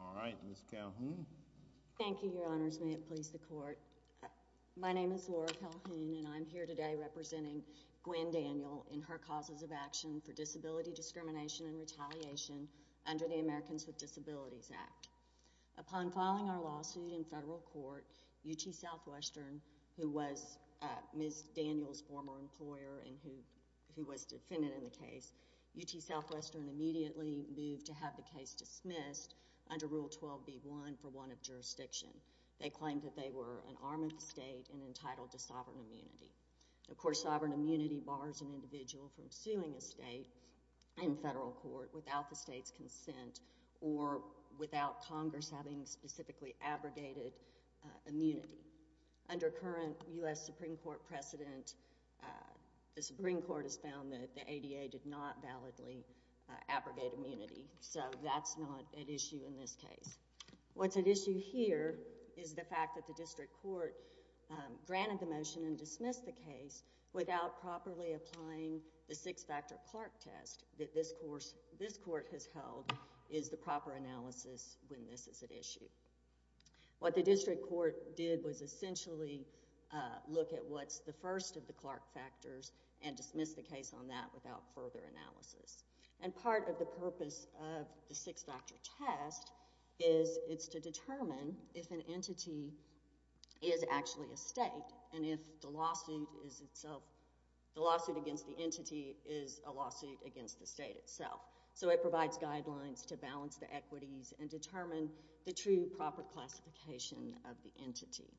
Alright, Ms. Calhoun. Thank you, your honors. May it please the court. My name is Laura Calhoun and I'm here today representing Gwen Daniel in her causes of action for disability discrimination and retaliation under the Americans with Disabilities Act. Upon filing our lawsuit in federal court, UT Southwestern, who was Ms. Daniel's former employer and who was defendant in the case, UT Southwestern immediately moved to have the case dismissed under Rule 12b-1 for one of jurisdiction. They claimed that they were an arm of the state and entitled to sovereign immunity. Of course, sovereign immunity bars an individual from suing a state in federal court without the state's consent or without Congress having specifically abrogated immunity. Under current U.S. Supreme Court precedent, the Supreme Court has found that the ADA did not validly abrogate immunity, so that's not at issue in this case. What's at issue here is the fact that the district court granted the motion and dismissed the case without properly applying the six-factor Clark test that this court has held is the proper analysis when this is at issue. What the district court did was essentially look at what's the first of the Clark factors and dismiss the case on that without further analysis. And part of the purpose of the six-factor test is it's to determine if an entity is actually a state and if the lawsuit against the entity is a lawsuit against the state itself. So it provides guidelines to balance the equities and determine the true proper classification of the entity.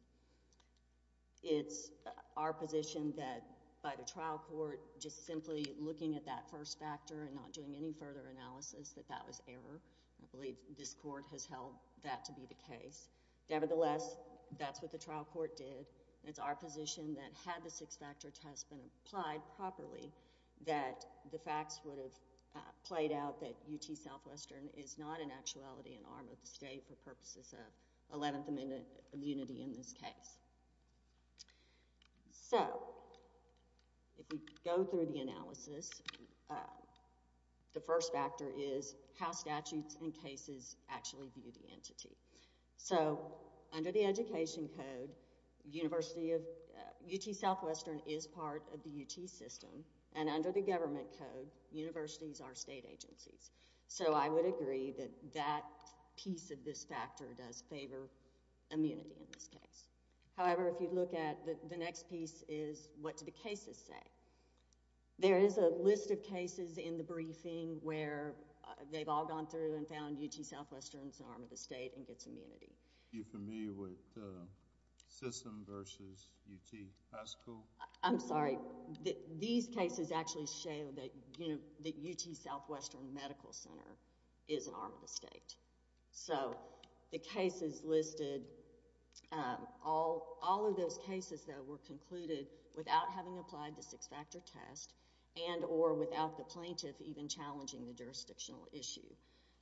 It's our position that by the trial court just simply looking at that first factor and not doing any further analysis that that was error. I believe this court has held that to be the case. Nevertheless, that's what the trial court did. It's our position that had the six-factor test been applied properly that the facts would have played out that UT Southwestern is not in actuality an arm of the state for purposes of 11th Amendment immunity in this case. So if we go through the analysis, the first factor is how statutes and cases actually view the entity. So under the Education Code, UT Southwestern is part of the UT system, and under the Government Code, universities are state agencies. So I would agree that that piece of this factor does favor immunity in this case. However, if you look at the next piece is what do the cases say. There is a list of cases in the briefing where they've all gone through and found UT Southwestern's an arm of the state and gets immunity. Are you familiar with system versus UT high school? I'm sorry. These cases actually show that UT Southwestern Medical Center is an arm of the state. So the cases listed, all of those cases that were concluded without having applied the six-factor test and or without the plaintiff even challenging the jurisdictional issue.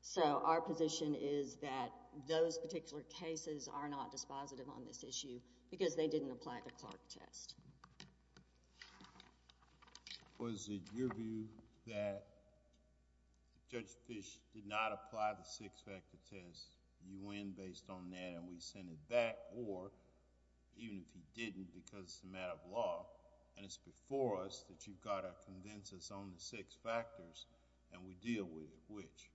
So our position is that those particular cases are not dispositive on this issue because they didn't apply the Clark test. Was it your view that if Judge Fish did not apply the six-factor test, you win based on that and we send it back, or even if he didn't because it's a matter of law and it's before us that you've got to convince us on the six factors and we deal with it, which?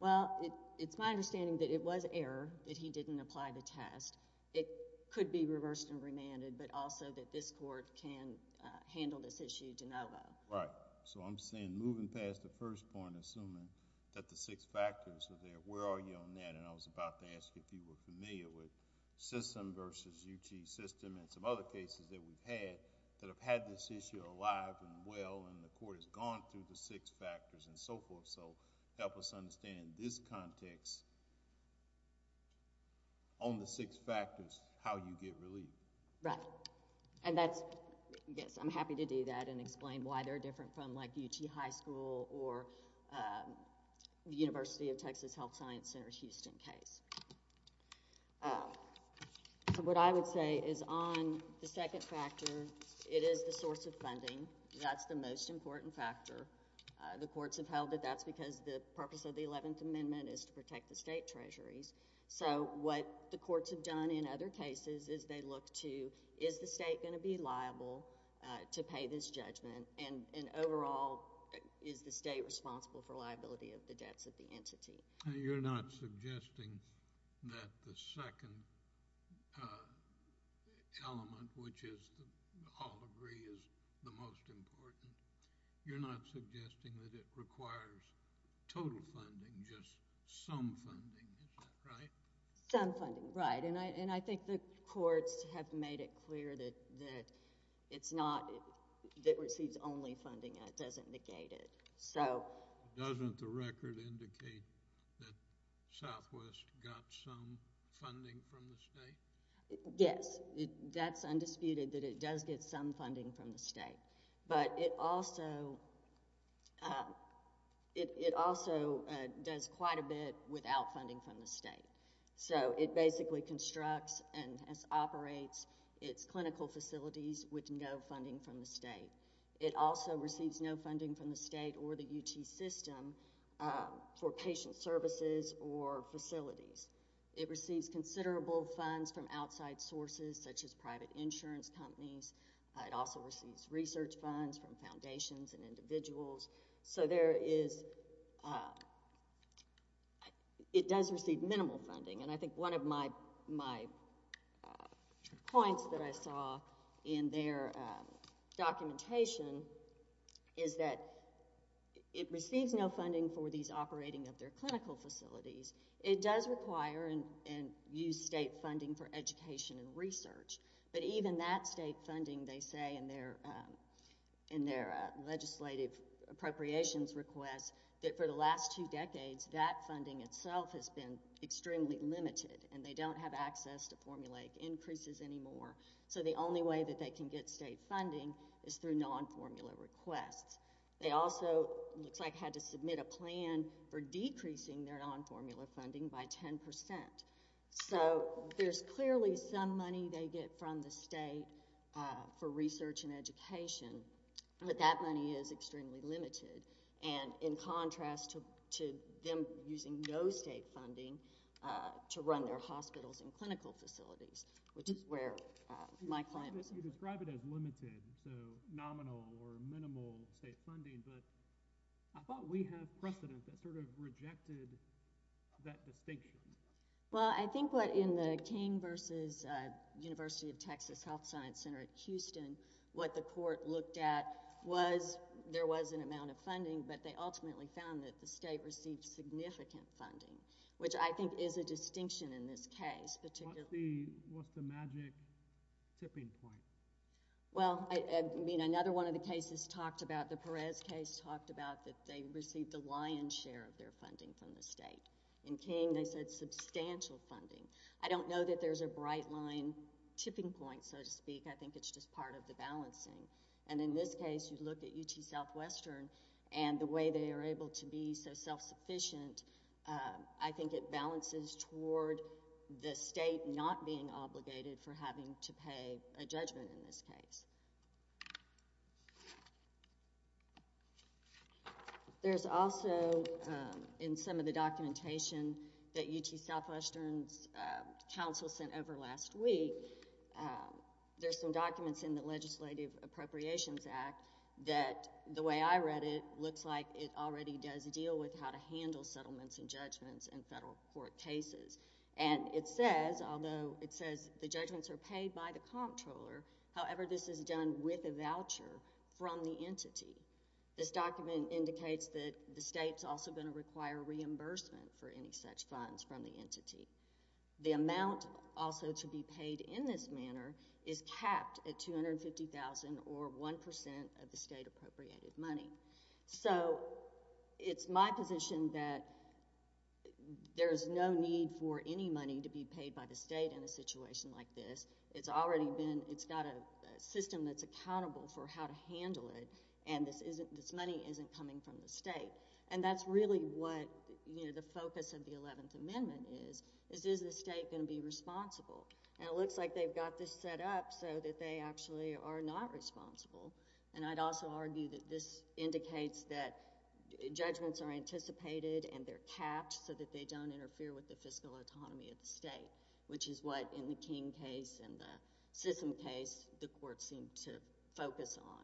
Well, it's my understanding that it was error that he didn't apply the test. It could be reversed and remanded, but also that this court can handle this issue de novo. Right. So I'm saying moving past the first point, assuming that the six factors are there, where are you on that? And I was about to ask if you were familiar with system versus UT system and some other cases that we've had that have had this issue alive and well and the court has gone through the six factors and so forth. So help us understand this context on the six factors, how you get relief. Right. And that's, yes, I'm happy to do that and explain why they're different from like UT High School or the University of Texas Health Science Center's Houston case. What I would say is on the second factor, it is the source of funding. That's the most important factor. The courts have held that that's because the purpose of the Eleventh Amendment is to protect the state treasuries. So what the courts have done in other cases is they look to, is the state going to be liable to pay this judgment and overall is the state responsible for liability of the debts of the entity? You're not suggesting that the second element, which is all agree is the most important, you're not suggesting that it requires total funding, just some funding. Is that right? Some funding, right. And I think the courts have made it clear that it's not, that it receives only funding and it doesn't negate it. Doesn't the record indicate that Southwest got some funding from the state? Yes. That's undisputed that it does get some funding from the state. But it also does quite a bit without funding from the state. So it basically constructs and operates its clinical facilities with no funding from the state. It also receives no funding from the state or the UT system for patient services or facilities. It receives considerable funds from outside sources, such as private insurance companies. It also receives research funds from foundations and individuals. So there is, it does receive minimal funding. And I think one of my points that I saw in their documentation is that it receives no funding for these operating of their clinical facilities. It does require and use state funding for education and research. But even that state funding, they say in their legislative appropriations request, that for the last two decades, that funding itself has been extremely limited and they don't have access to formulaic increases anymore. So the only way that they can get state funding is through non-formula requests. They also, it looks like, had to submit a plan for decreasing their non-formula funding by 10%. So there's clearly some money they get from the state for research and education, but that money is extremely limited. And in contrast to them using no state funding to run their hospitals and clinical facilities, which is where my client was. You describe it as limited, so nominal or minimal state funding, but I thought we had precedent that sort of rejected that distinction. Well, I think what in the King v. University of Texas Health Science Center at Houston, what the court looked at was there was an amount of funding, but they ultimately found that the state received significant funding, which I think is a distinction in this case. What's the magic tipping point? Well, another one of the cases talked about, the Perez case talked about that they received a lion's share of their funding from the state. In King, they said substantial funding. I don't know that there's a bright line tipping point, so to speak. I think it's just part of the balancing. And in this case, you look at UT Southwestern and the way they are able to be so self-sufficient, I think it balances toward the state not being obligated for having to pay a judgment in this case. There's also, in some of the documentation that UT Southwestern's council sent over last week, there's some documents in the Legislative Appropriations Act that the way I read it, looks like it already does deal with how to handle settlements and judgments in federal court cases. And it says, although it says the judgments are paid by the comptroller, however, this is done with a voucher from the entity. This document indicates that the state's also going to require reimbursement for any such funds from the entity. The amount also to be paid in this manner is capped at $250,000 or 1% of the state-appropriated money. So, it's my position that there's no need for any money to be paid by the state in a situation like this. It's already been, it's got a system that's accountable for how to handle it, and this money isn't coming from the state. And that's really what the focus of the 11th Amendment is, is is the state going to be responsible? And it looks like they've got this set up so that they actually are not responsible. And I'd also argue that this indicates that judgments are anticipated and they're capped so that they don't interfere with the fiscal autonomy of the state, which is what, in the King case and the Sissom case, the court seemed to focus on,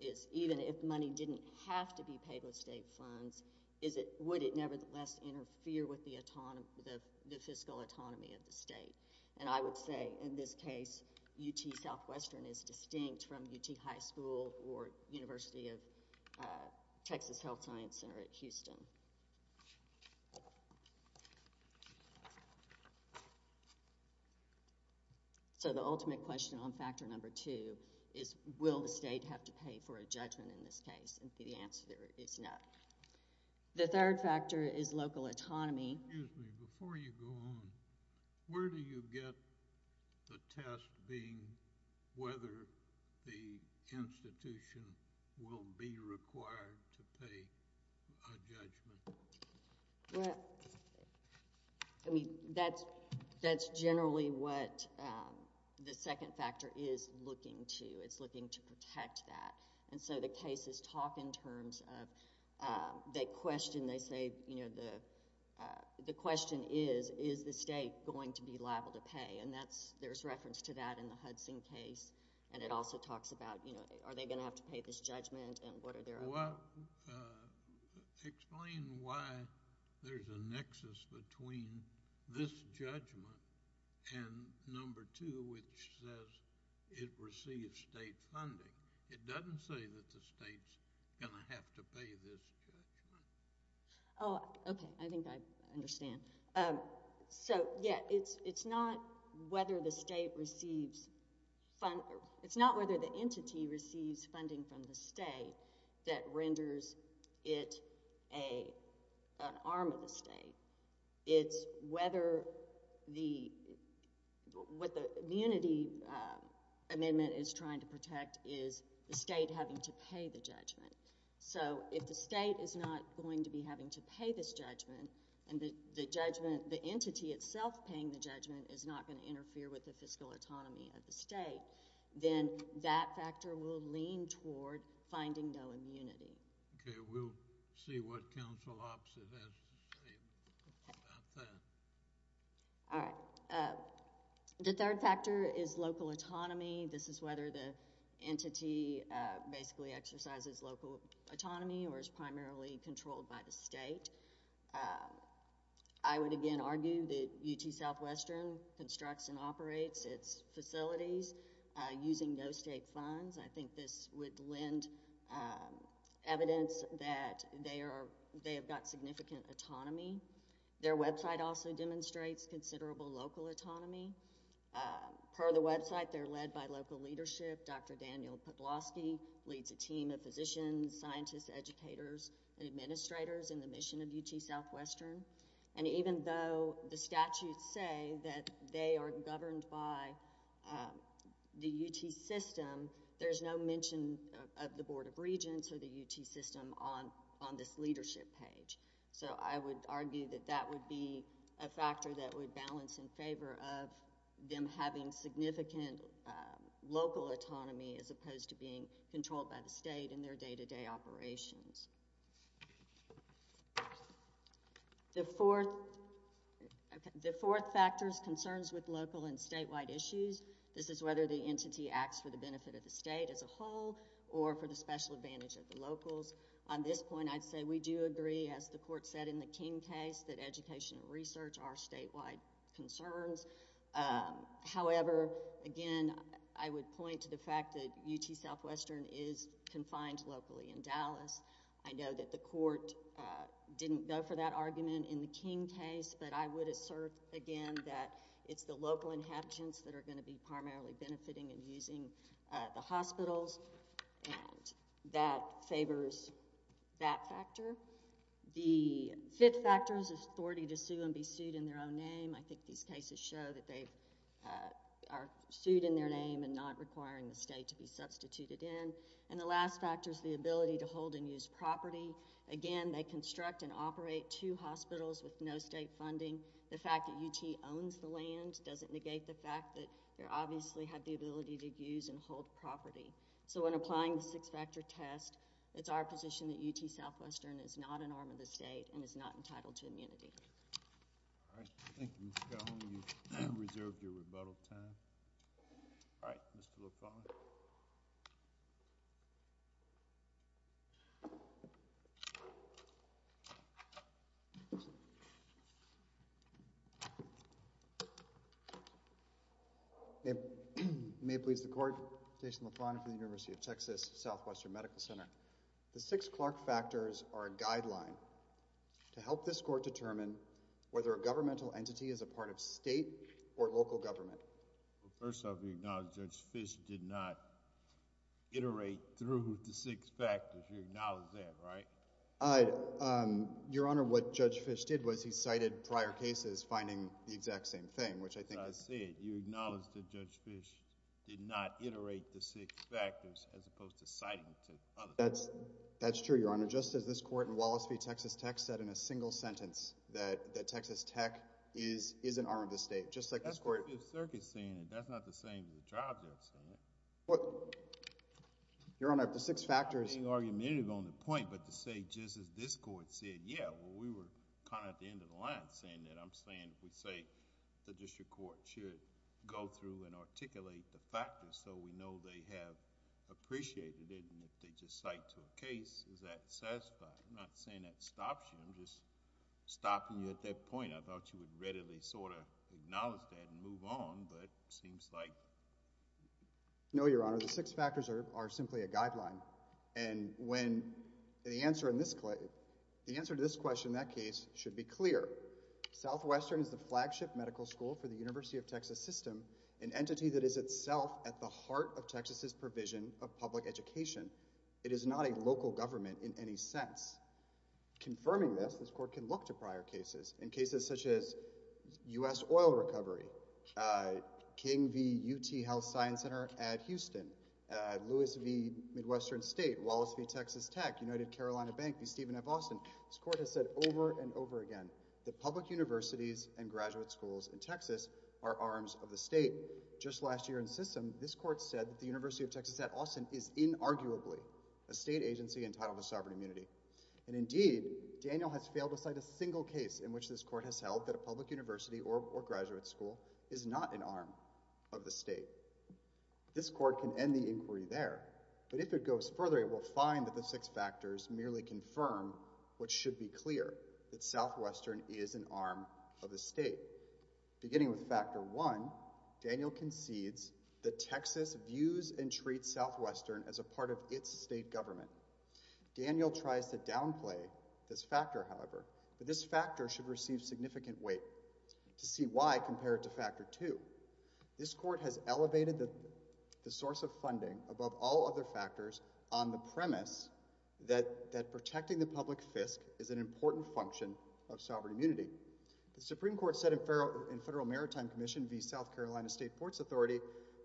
is even if money didn't have to be paid with state funds, would it nevertheless interfere with the fiscal autonomy of the state? And I would say, in this case, UT Southwestern is distinct from UT High School or University of Texas Health Science Center at Houston. So, the ultimate question on factor number two is, will the state have to pay for a judgment in this case? And the answer is no. The third factor is local autonomy. Excuse me. Before you go on, where do you get the test being whether the institution will be required to pay a judgment? Well, I mean, that's generally what the second factor is looking to. It's looking to protect that. And so the cases talk in terms of they question, they say, you know, the question is, is the state going to be liable to pay? And there's reference to that in the Hudson case. And it also talks about, you know, are they going to have to pay this judgment and what are their— Well, explain why there's a nexus between this judgment and number two, which says it receives state funding. It doesn't say that the state's going to have to pay this judgment. Oh, okay. I think I understand. So, yeah, it's not whether the state receives— it's not whether the entity receives funding from the state that renders it an arm of the state. It's whether the—what the immunity amendment is trying to protect is the state having to pay the judgment. So if the state is not going to be having to pay this judgment and the judgment—the entity itself paying the judgment is not going to interfere with the fiscal autonomy of the state, then that factor will lean toward finding no immunity. Okay. We'll see what counsel opposite has to say about that. All right. The third factor is local autonomy. This is whether the entity basically exercises local autonomy or is primarily controlled by the state. I would, again, argue that UT Southwestern constructs and operates its facilities using no state funds. I think this would lend evidence that they are—they have got significant autonomy. Their website also demonstrates considerable local autonomy. Per the website, they're led by local leadership. Dr. Daniel Podlosky leads a team of physicians, scientists, educators, and administrators in the mission of UT Southwestern. And even though the statutes say that they are governed by the UT system, there's no mention of the Board of Regents or the UT system on this leadership page. So I would argue that that would be a factor that would balance in favor of them having significant local autonomy as opposed to being controlled by the state in their day-to-day operations. The fourth factor is concerns with local and statewide issues. This is whether the entity acts for the benefit of the state as a whole or for the special advantage of the locals. On this point, I'd say we do agree, as the court said in the King case, that education and research are statewide concerns. However, again, I would point to the fact that UT Southwestern is confined locally in Dallas. I know that the court didn't go for that argument in the King case, but I would assert, again, that it's the local inhabitants that are going to be primarily benefiting and using the hospitals. And that favors that factor. The fifth factor is authority to sue and be sued in their own name. I think these cases show that they are sued in their name and not requiring the state to be substituted in. And the last factor is the ability to hold and use property. Again, they construct and operate two hospitals with no state funding. The fact that UT owns the land doesn't negate the fact that they obviously have the ability to use and hold property. So when applying the six-factor test, it's our position that UT Southwestern is not an arm of the state and is not entitled to immunity. All right. Thank you, Ms. Calhoun. You've reserved your rebuttal time. All right, Mr. LaFontaine. May it please the court, Jason LaFontaine for the University of Texas Southwestern Medical Center. The six Clark factors are a guideline to help this court determine whether a governmental entity is a part of state or local government. Well, first off, you acknowledge Judge Fish did not iterate through the six factors. You acknowledge that, right? Your Honor, what Judge Fish did was he cited prior cases finding the exact same thing, which I think is – You acknowledge that Judge Fish did not iterate the six factors as opposed to citing to other factors. That's true, Your Honor. Just as this court in Wallis v. Texas Tech said in a single sentence that Texas Tech is an arm of the state, just like this court – That's the Fifth Circuit saying it. That's not the saying of the tribes outside. Your Honor, if the six factors –– go through and articulate the factors so we know they have appreciated it and if they just cite to a case, is that satisfying? I'm not saying that stops you. I'm just stopping you at that point. I thought you would readily sort of acknowledge that and move on, but it seems like – No, Your Honor. The six factors are simply a guideline. And when the answer in this – the answer to this question in that case should be clear. Southwestern is the flagship medical school for the University of Texas system, an entity that is itself at the heart of Texas' provision of public education. It is not a local government in any sense. Confirming this, this court can look to prior cases. In cases such as U.S. oil recovery, King v. UT Health Science Center at Houston, Lewis v. Midwestern State, Wallis v. Texas Tech, United Carolina Bank v. Stephen F. Austin, this court has said over and over again that public universities and graduate schools in Texas are arms of the state. Just last year in system, this court said that the University of Texas at Austin is inarguably a state agency entitled to sovereign immunity. And indeed, Daniel has failed to cite a single case in which this court has held that a public university or graduate school is not an arm of the state. This court can end the inquiry there. But if it goes further, it will find that the six factors merely confirm what should be clear – that Southwestern is an arm of the state. Beginning with factor one, Daniel concedes that Texas views and treats Southwestern as a part of its state government. Daniel tries to downplay this factor, however, but this factor should receive significant weight. To see why, compare it to factor two. This court has elevated the source of funding above all other factors on the premise that protecting the public fisc is an important function of sovereign immunity. The Supreme Court said in Federal Maritime Commission v. South Carolina State Ports Authority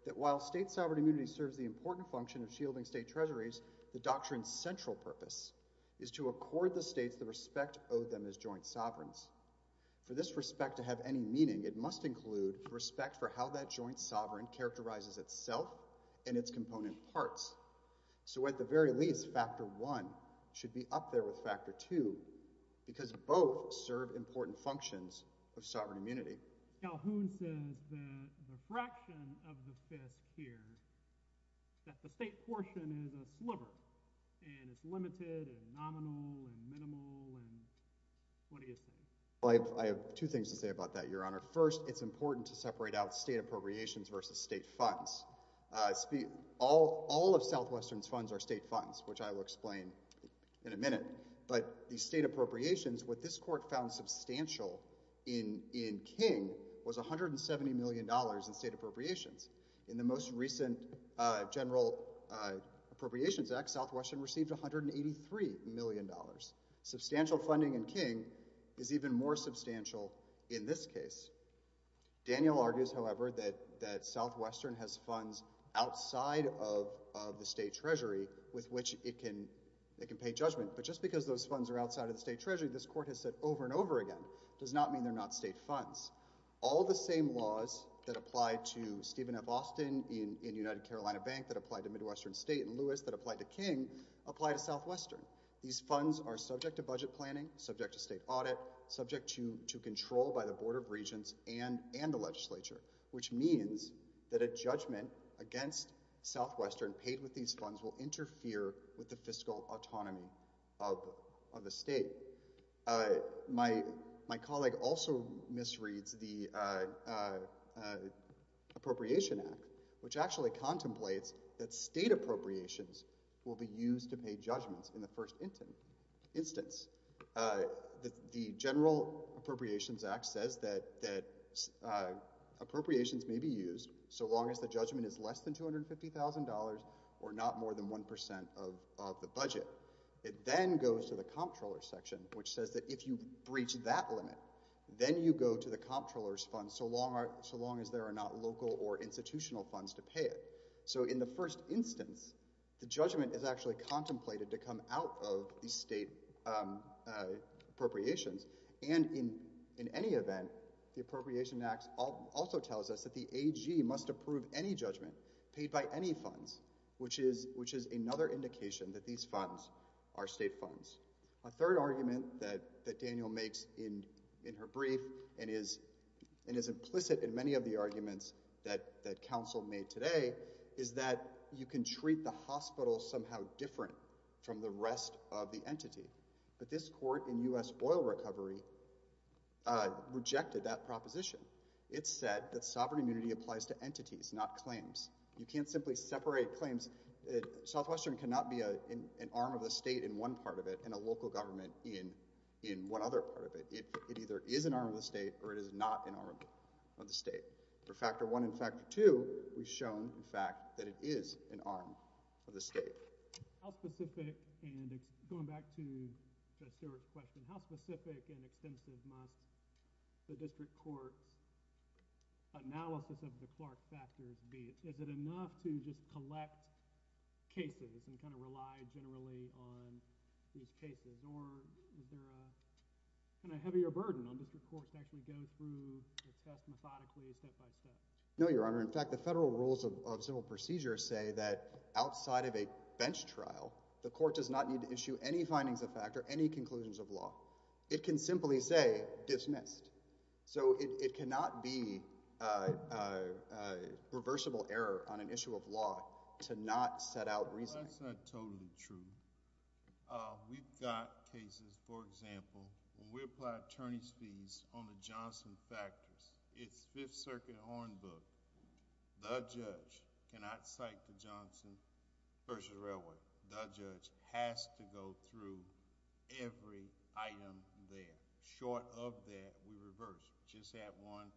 that while state sovereign immunity serves the important function of shielding state treasuries, the doctrine's central purpose is to accord the states the respect owed them as joint sovereigns. For this respect to have any meaning, it must include respect for how that joint sovereign characterizes itself and its component parts. So at the very least, factor one should be up there with factor two because both serve important functions of sovereign immunity. Calhoun says that the fraction of the fisc here, that the state portion is a sliver, and it's limited and nominal and minimal, and what do you say? I have two things to say about that, Your Honor. First, it's important to separate out state appropriations versus state funds. All of Southwestern's funds are state funds, which I will explain in a minute. But the state appropriations, what this court found substantial in King was $170 million in state appropriations. In the most recent General Appropriations Act, Southwestern received $183 million. Substantial funding in King is even more substantial in this case. Daniel argues, however, that Southwestern has funds outside of the state treasury with which it can pay judgment. But just because those funds are outside of the state treasury, this court has said over and over again, does not mean they're not state funds. All the same laws that apply to Stephen F. Austin in United Carolina Bank, that apply to Midwestern State, and Lewis that apply to King, apply to Southwestern. These funds are subject to budget planning, subject to state audit, subject to control by the Board of Regents and the legislature, which means that a judgment against Southwestern paid with these funds will interfere with the fiscal autonomy of the state. My colleague also misreads the Appropriation Act, which actually contemplates that state appropriations will be used to pay judgments in the first instance. The General Appropriations Act says that appropriations may be used so long as the judgment is less than $250,000 or not more than 1% of the budget. It then goes to the Comptroller's section, which says that if you breach that limit, then you go to the Comptroller's funds so long as there are not local or institutional funds to pay it. So in the first instance, the judgment is actually contemplated to come out of the state appropriations. And in any event, the Appropriation Act also tells us that the AG must approve any judgment paid by any funds, which is another indication that these funds are state funds. A third argument that Daniel makes in her brief and is implicit in many of the arguments that counsel made today is that you can treat the hospital somehow different from the rest of the entity. But this court in U.S. Oil Recovery rejected that proposition. It said that sovereign immunity applies to entities, not claims. You can't simply separate claims. Southwestern cannot be an arm of the state in one part of it and a local government in one other part of it. It either is an arm of the state or it is not an arm of the state. For Factor I and Factor II, we've shown, in fact, that it is an arm of the state. How specific and – going back to Judge Stewart's question – how specific and extensive must the district court's analysis of the Clark factors be? Is it enough to just collect cases and kind of rely generally on these cases? Or is there a kind of heavier burden on district courts to actually go through the test methodically, step by step? No, Your Honor. In fact, the federal rules of civil procedure say that outside of a bench trial, the court does not need to issue any findings of factor, any conclusions of law. It can simply say dismissed. So it cannot be a reversible error on an issue of law to not set out reasoning. Well, that's not totally true. We've got cases, for example, when we apply attorney's fees on the Johnson factors, it's Fifth Circuit Hornbook. The judge cannot cite the Johnson versus Railway. The judge has to go through every item there. Short of that, we reverse. Just had one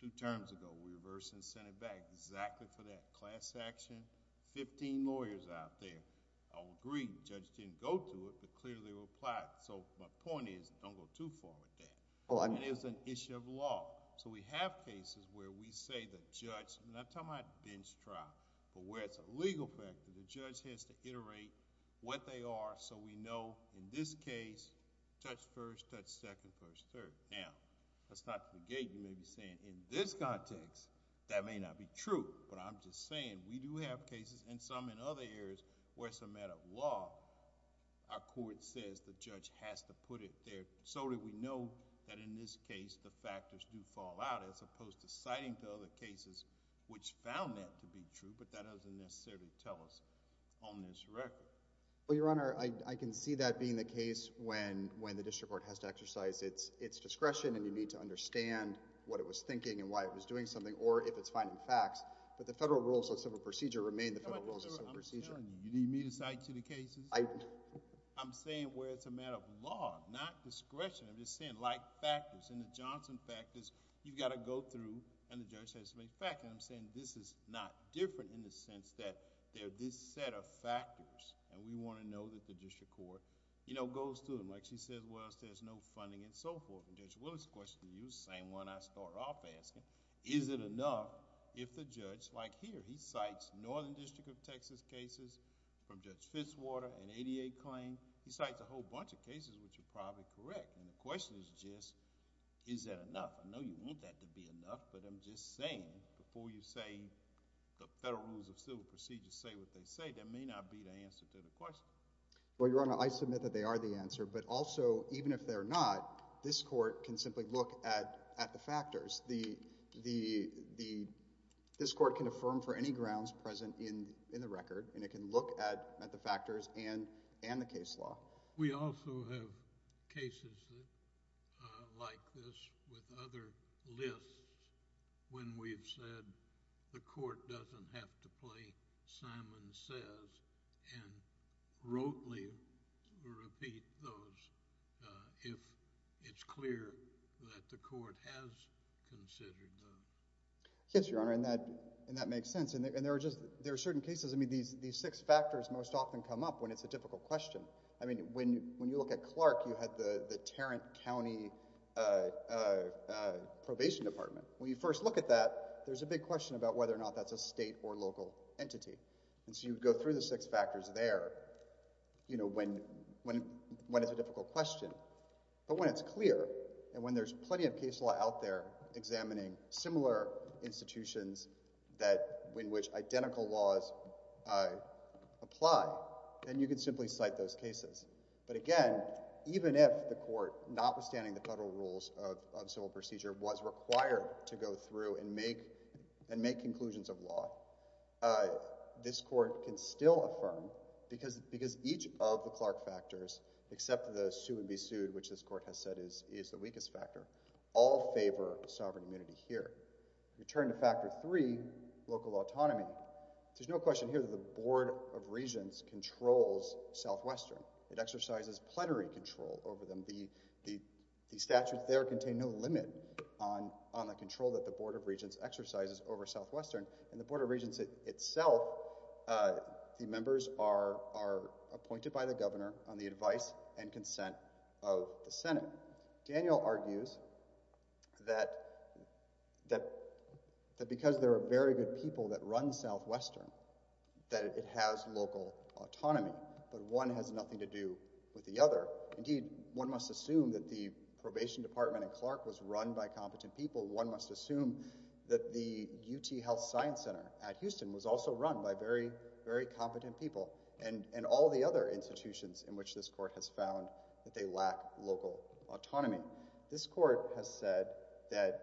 two terms ago. We reverse and send it back. Exactly for that class action. Fifteen lawyers out there. I would agree. The judge didn't go through it, but clearly replied. My point is, don't go too far with that. It's an issue of law. We have cases where we say the judge... I'm not talking about a bench trial, but where it's a legal factor. The judge has to iterate what they are so we know in this case, judge first, judge second, judge third. Now, that's not to negate. You may be saying, in this context, that may not be true. But I'm just saying, we do have cases and some in other areas where it's a matter of law. Our court says the judge has to put it there so that we know that in this case the factors do fall out, as opposed to citing to other cases which found that to be true, but that doesn't necessarily tell us on this record. Well, Your Honor, I can see that being the case when the district court has to exercise its discretion and you need to understand what it was thinking and why it was doing something, or if it's finding facts, but the federal rules of civil procedure remain the federal rules of civil procedure. Your Honor, I'm telling you, you need me to cite to the cases? I'm saying where it's a matter of law, not discretion. I'm just saying like factors. In the Johnson factors, you've got to go through and the judge has to make a factor. I'm saying this is not different in the sense that there are this set of factors and we want to know that the district court goes through them. Like she said, there's no funding and so forth. The same one I started off asking, is it enough if the judge, like here, he cites Northern District of Texas cases from Judge Fitzwater, an 88 claim. He cites a whole bunch of cases which are probably correct. The question is just, is that enough? I know you want that to be enough, but I'm just saying before you say the federal rules of civil procedure say what they say, that may not be the answer to the question. Well, Your Honor, I submit that they are the answer, but also even if they're not, this court can simply look at the factors. This court can affirm for any grounds present in the record and it can look at the factors and the case law. We also have cases like this with other lists when we've said the court doesn't have to play Simon Says and rotely repeat those if it's clear that the court has considered them. Yes, Your Honor, and that makes sense. And there are certain cases, I mean, these six factors most often come up when it's a difficult question. I mean, when you look at Clark, you had the Tarrant County Probation Department. When you first look at that, there's a big question about whether or not that's a state or local entity. And so you go through the six factors there when it's a difficult question. But when it's clear and when there's plenty of case law out there examining similar institutions in which identical laws apply, then you can simply cite those cases. But again, even if the court, notwithstanding the federal rules of civil procedure, was required to go through and make conclusions of law, this court can still affirm because each of the Clark factors, except the sue and be sued, which this court has said is the weakest factor, all favor sovereign immunity here. Return to factor three, local autonomy. There's no question here that the Board of Regents controls Southwestern. It exercises plenary control over them. The statutes there contain no limit on the control that the Board of Regents exercises over Southwestern. And the Board of Regents itself, the members are appointed by the governor on the advice and consent of the Senate. Daniel argues that because there are very good people that run Southwestern, that it has local autonomy, but one has nothing to do with the other. Indeed, one must assume that the probation department in Clark was run by competent people. One must assume that the UT Health Science Center at Houston was also run by very, very competent people and all the other institutions in which this court has found that they lack local autonomy. This court has said that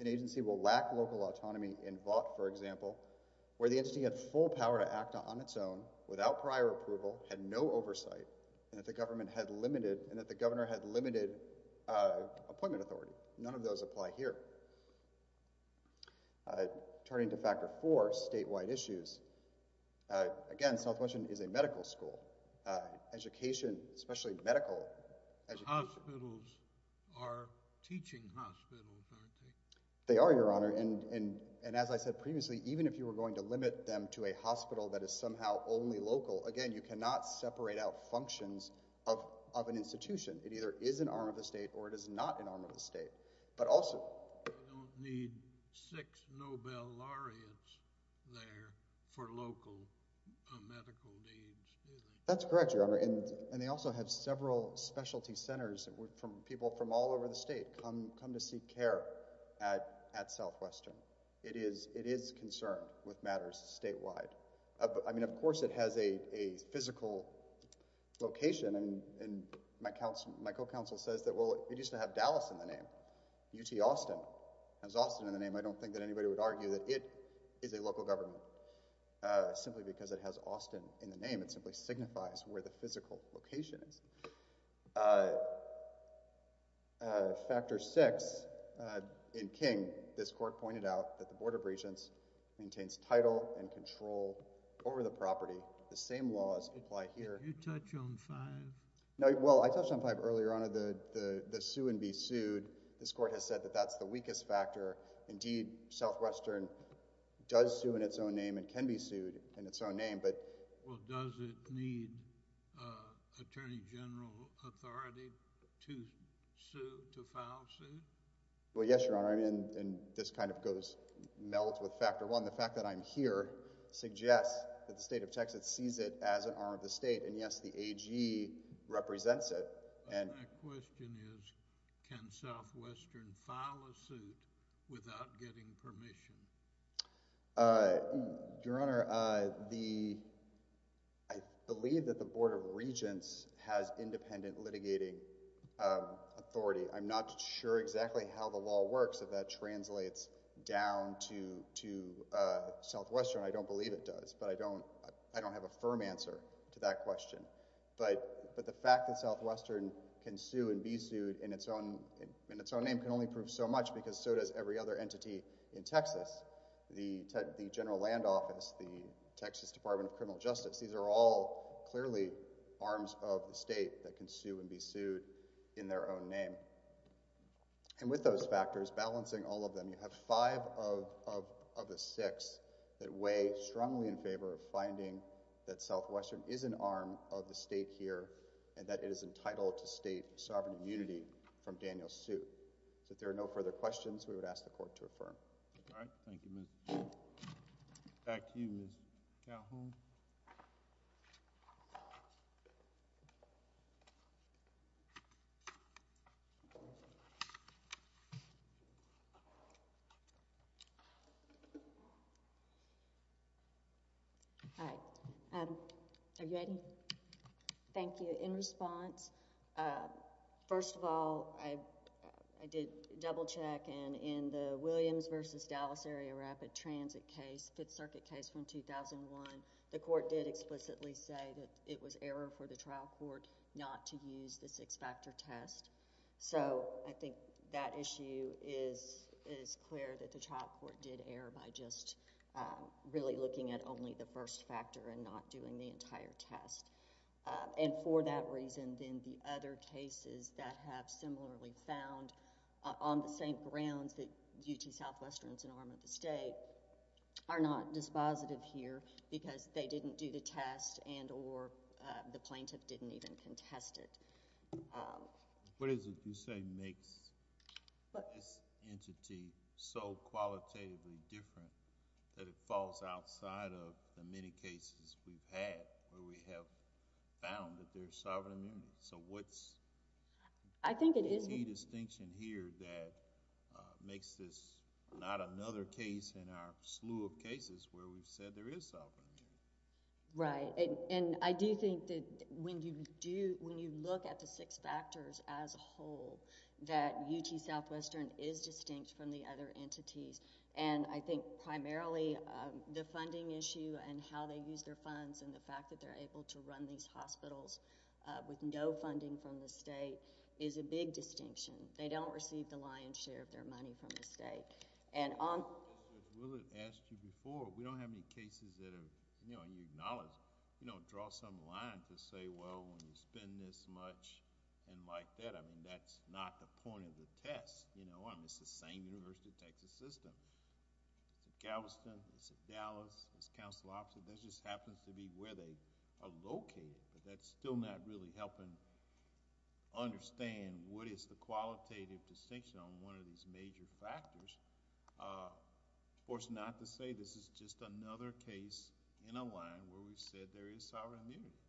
an agency will lack local autonomy in Vought, for example, where the entity had full power to act on its own, without prior approval, had no oversight, and that the governor had limited appointment authority. None of those apply here. Turning to factor four, statewide issues. Again, Southwestern is a medical school. Education, especially medical education. Hospitals are teaching hospitals, aren't they? They are, Your Honor. And as I said previously, even if you were going to limit them to a hospital that is somehow only local, again, you cannot separate out functions of an institution. It either is an arm of the state or it is not an arm of the state. But also— They don't need six Nobel laureates there for local medical needs, do they? That's correct, Your Honor. And they also have several specialty centers where people from all over the state come to seek care at Southwestern. It is concerned with matters statewide. I mean, of course it has a physical location. And my co-counsel says that, well, it used to have Dallas in the name. UT Austin has Austin in the name. I don't think that anybody would argue that it is a local government simply because it has Austin in the name. It simply signifies where the physical location is. Factor six, in King, this court pointed out that the Board of Regents maintains title and control over the property. The same laws apply here. Did you touch on five? Well, I touched on five earlier, Your Honor, the sue and be sued. This court has said that that's the weakest factor. Indeed, Southwestern does sue in its own name and can be sued in its own name. Well, does it need attorney general authority to sue, to file a suit? Well, yes, Your Honor. And this kind of goes – melts with factor one. The fact that I'm here suggests that the state of Texas sees it as an arm of the state. And, yes, the AG represents it. My question is can Southwestern file a suit without getting permission? Your Honor, the – I believe that the Board of Regents has independent litigating authority. I'm not sure exactly how the law works if that translates down to Southwestern. I don't believe it does, but I don't have a firm answer to that question. But the fact that Southwestern can sue and be sued in its own name can only prove so much because so does every other entity in Texas. The General Land Office, the Texas Department of Criminal Justice, these are all clearly arms of the state that can sue and be sued in their own name. And with those factors, balancing all of them, you have five of the six that weigh strongly in favor of finding that Southwestern is an arm of the state here and that it is entitled to state sovereign immunity from Daniel's suit. So if there are no further questions, we would ask the Court to affirm. All right. Thank you, Mr. Chairman. Back to you, Ms. Calhoun. All right. Are you ready? Thank you. In response, first of all, I did double-check, and in the Williams v. Dallas Area Rapid Transit case, Fifth Circuit case from 2001, the Court did explicitly say that it was error for the trial court not to use the six-factor test. So I think that issue is clear that the trial court did err by just really looking at only the first factor and not doing the entire test. And for that reason, then the other cases that have similarly found on the same grounds that UT Southwestern is an arm of the state are not dispositive here because they didn't do the test and or the plaintiff didn't even contest it. What is it you say makes this entity so qualitatively different that it falls outside of the many cases we've had where we have found that there's sovereign immunity? So what's the key distinction here that makes this not another case in our slew of cases where we've said there is sovereign immunity? Right. And I do think that when you look at the six factors as a whole, that UT Southwestern is distinct from the other entities. And I think primarily the funding issue and how they use their funds and the fact that they're able to run these hospitals with no funding from the state is a big distinction. They don't receive the lion's share of their money from the state. Just as Will had asked you before, we don't have any cases that have, and you acknowledge, draw some line to say, well, when you spend this much and like that, I mean, that's not the point of the test. I mean, it's the same University of Texas system. It's at Galveston, it's at Dallas, it's council offices. That just happens to be where they are located. But that's still not really helping understand what is the qualitative distinction on one of these major factors. Of course, not to say this is just another case in a line where we've said there is sovereign immunity.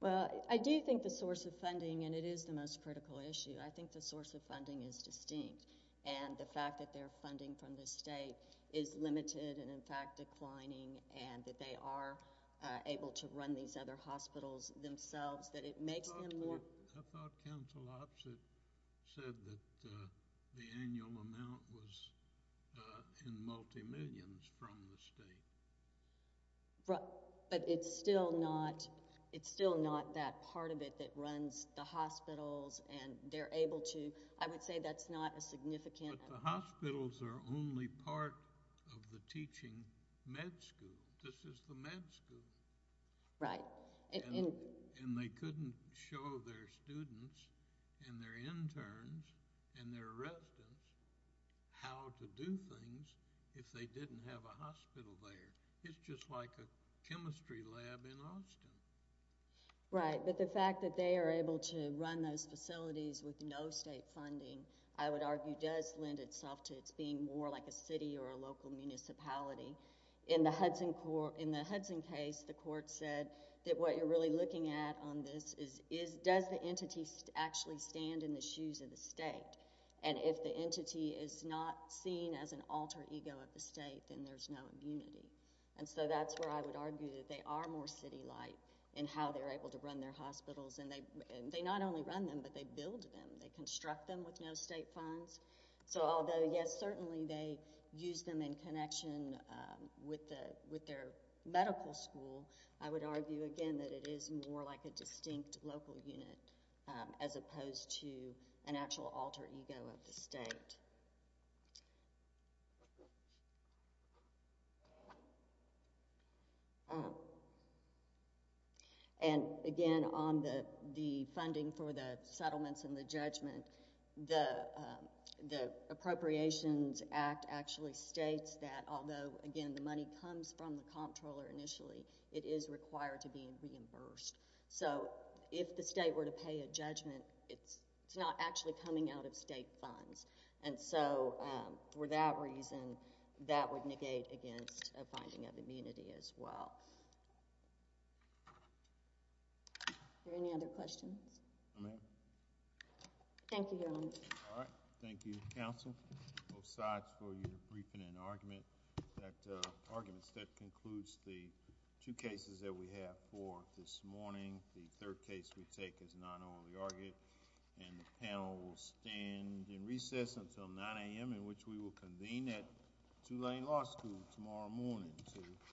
Well, I do think the source of funding, and it is the most critical issue, I think the source of funding is distinct. And the fact that their funding from the state is limited and in fact declining and that they are able to run these other hospitals themselves, that it makes them more... I thought council opposite said that the annual amount was in multi-millions from the state. But it's still not that part of it that runs the hospitals and they're able to... I would say that's not a significant... But the hospitals are only part of the teaching med school. This is the med school. Right. And they couldn't show their students and their interns and their residents how to do things if they didn't have a hospital there. It's just like a chemistry lab in Austin. Right, but the fact that they are able to run those facilities with no state funding, I would argue does lend itself to it being more like a city or a local municipality. In the Hudson case, the court said that what you're really looking at on this is does the entity actually stand in the shoes of the state? And if the entity is not seen as an alter ego of the state, then there's no immunity. And so that's where I would argue that they are more city-like in how they're able to run their hospitals. And they not only run them, but they build them. They construct them with no state funds. So although, yes, certainly they use them in connection with their medical school, I would argue, again, that it is more like a distinct local unit as opposed to an actual alter ego of the state. And, again, on the funding for the settlements and the judgment, the Appropriations Act actually states that, although, again, the money comes from the comptroller initially, it is required to be reimbursed. So if the state were to pay a judgment, it's not actually coming out of state funds. And so for that reason, that would negate against a finding of immunity as well. Are there any other questions? Thank you, Your Honor. All right. Thank you, counsel. Both sides for your briefing and arguments. That concludes the two cases that we have for this morning. The third case we take is not overly argued. And the panel will stand in recess until 9 a.m., in which we will convene at Tulane Law School tomorrow morning.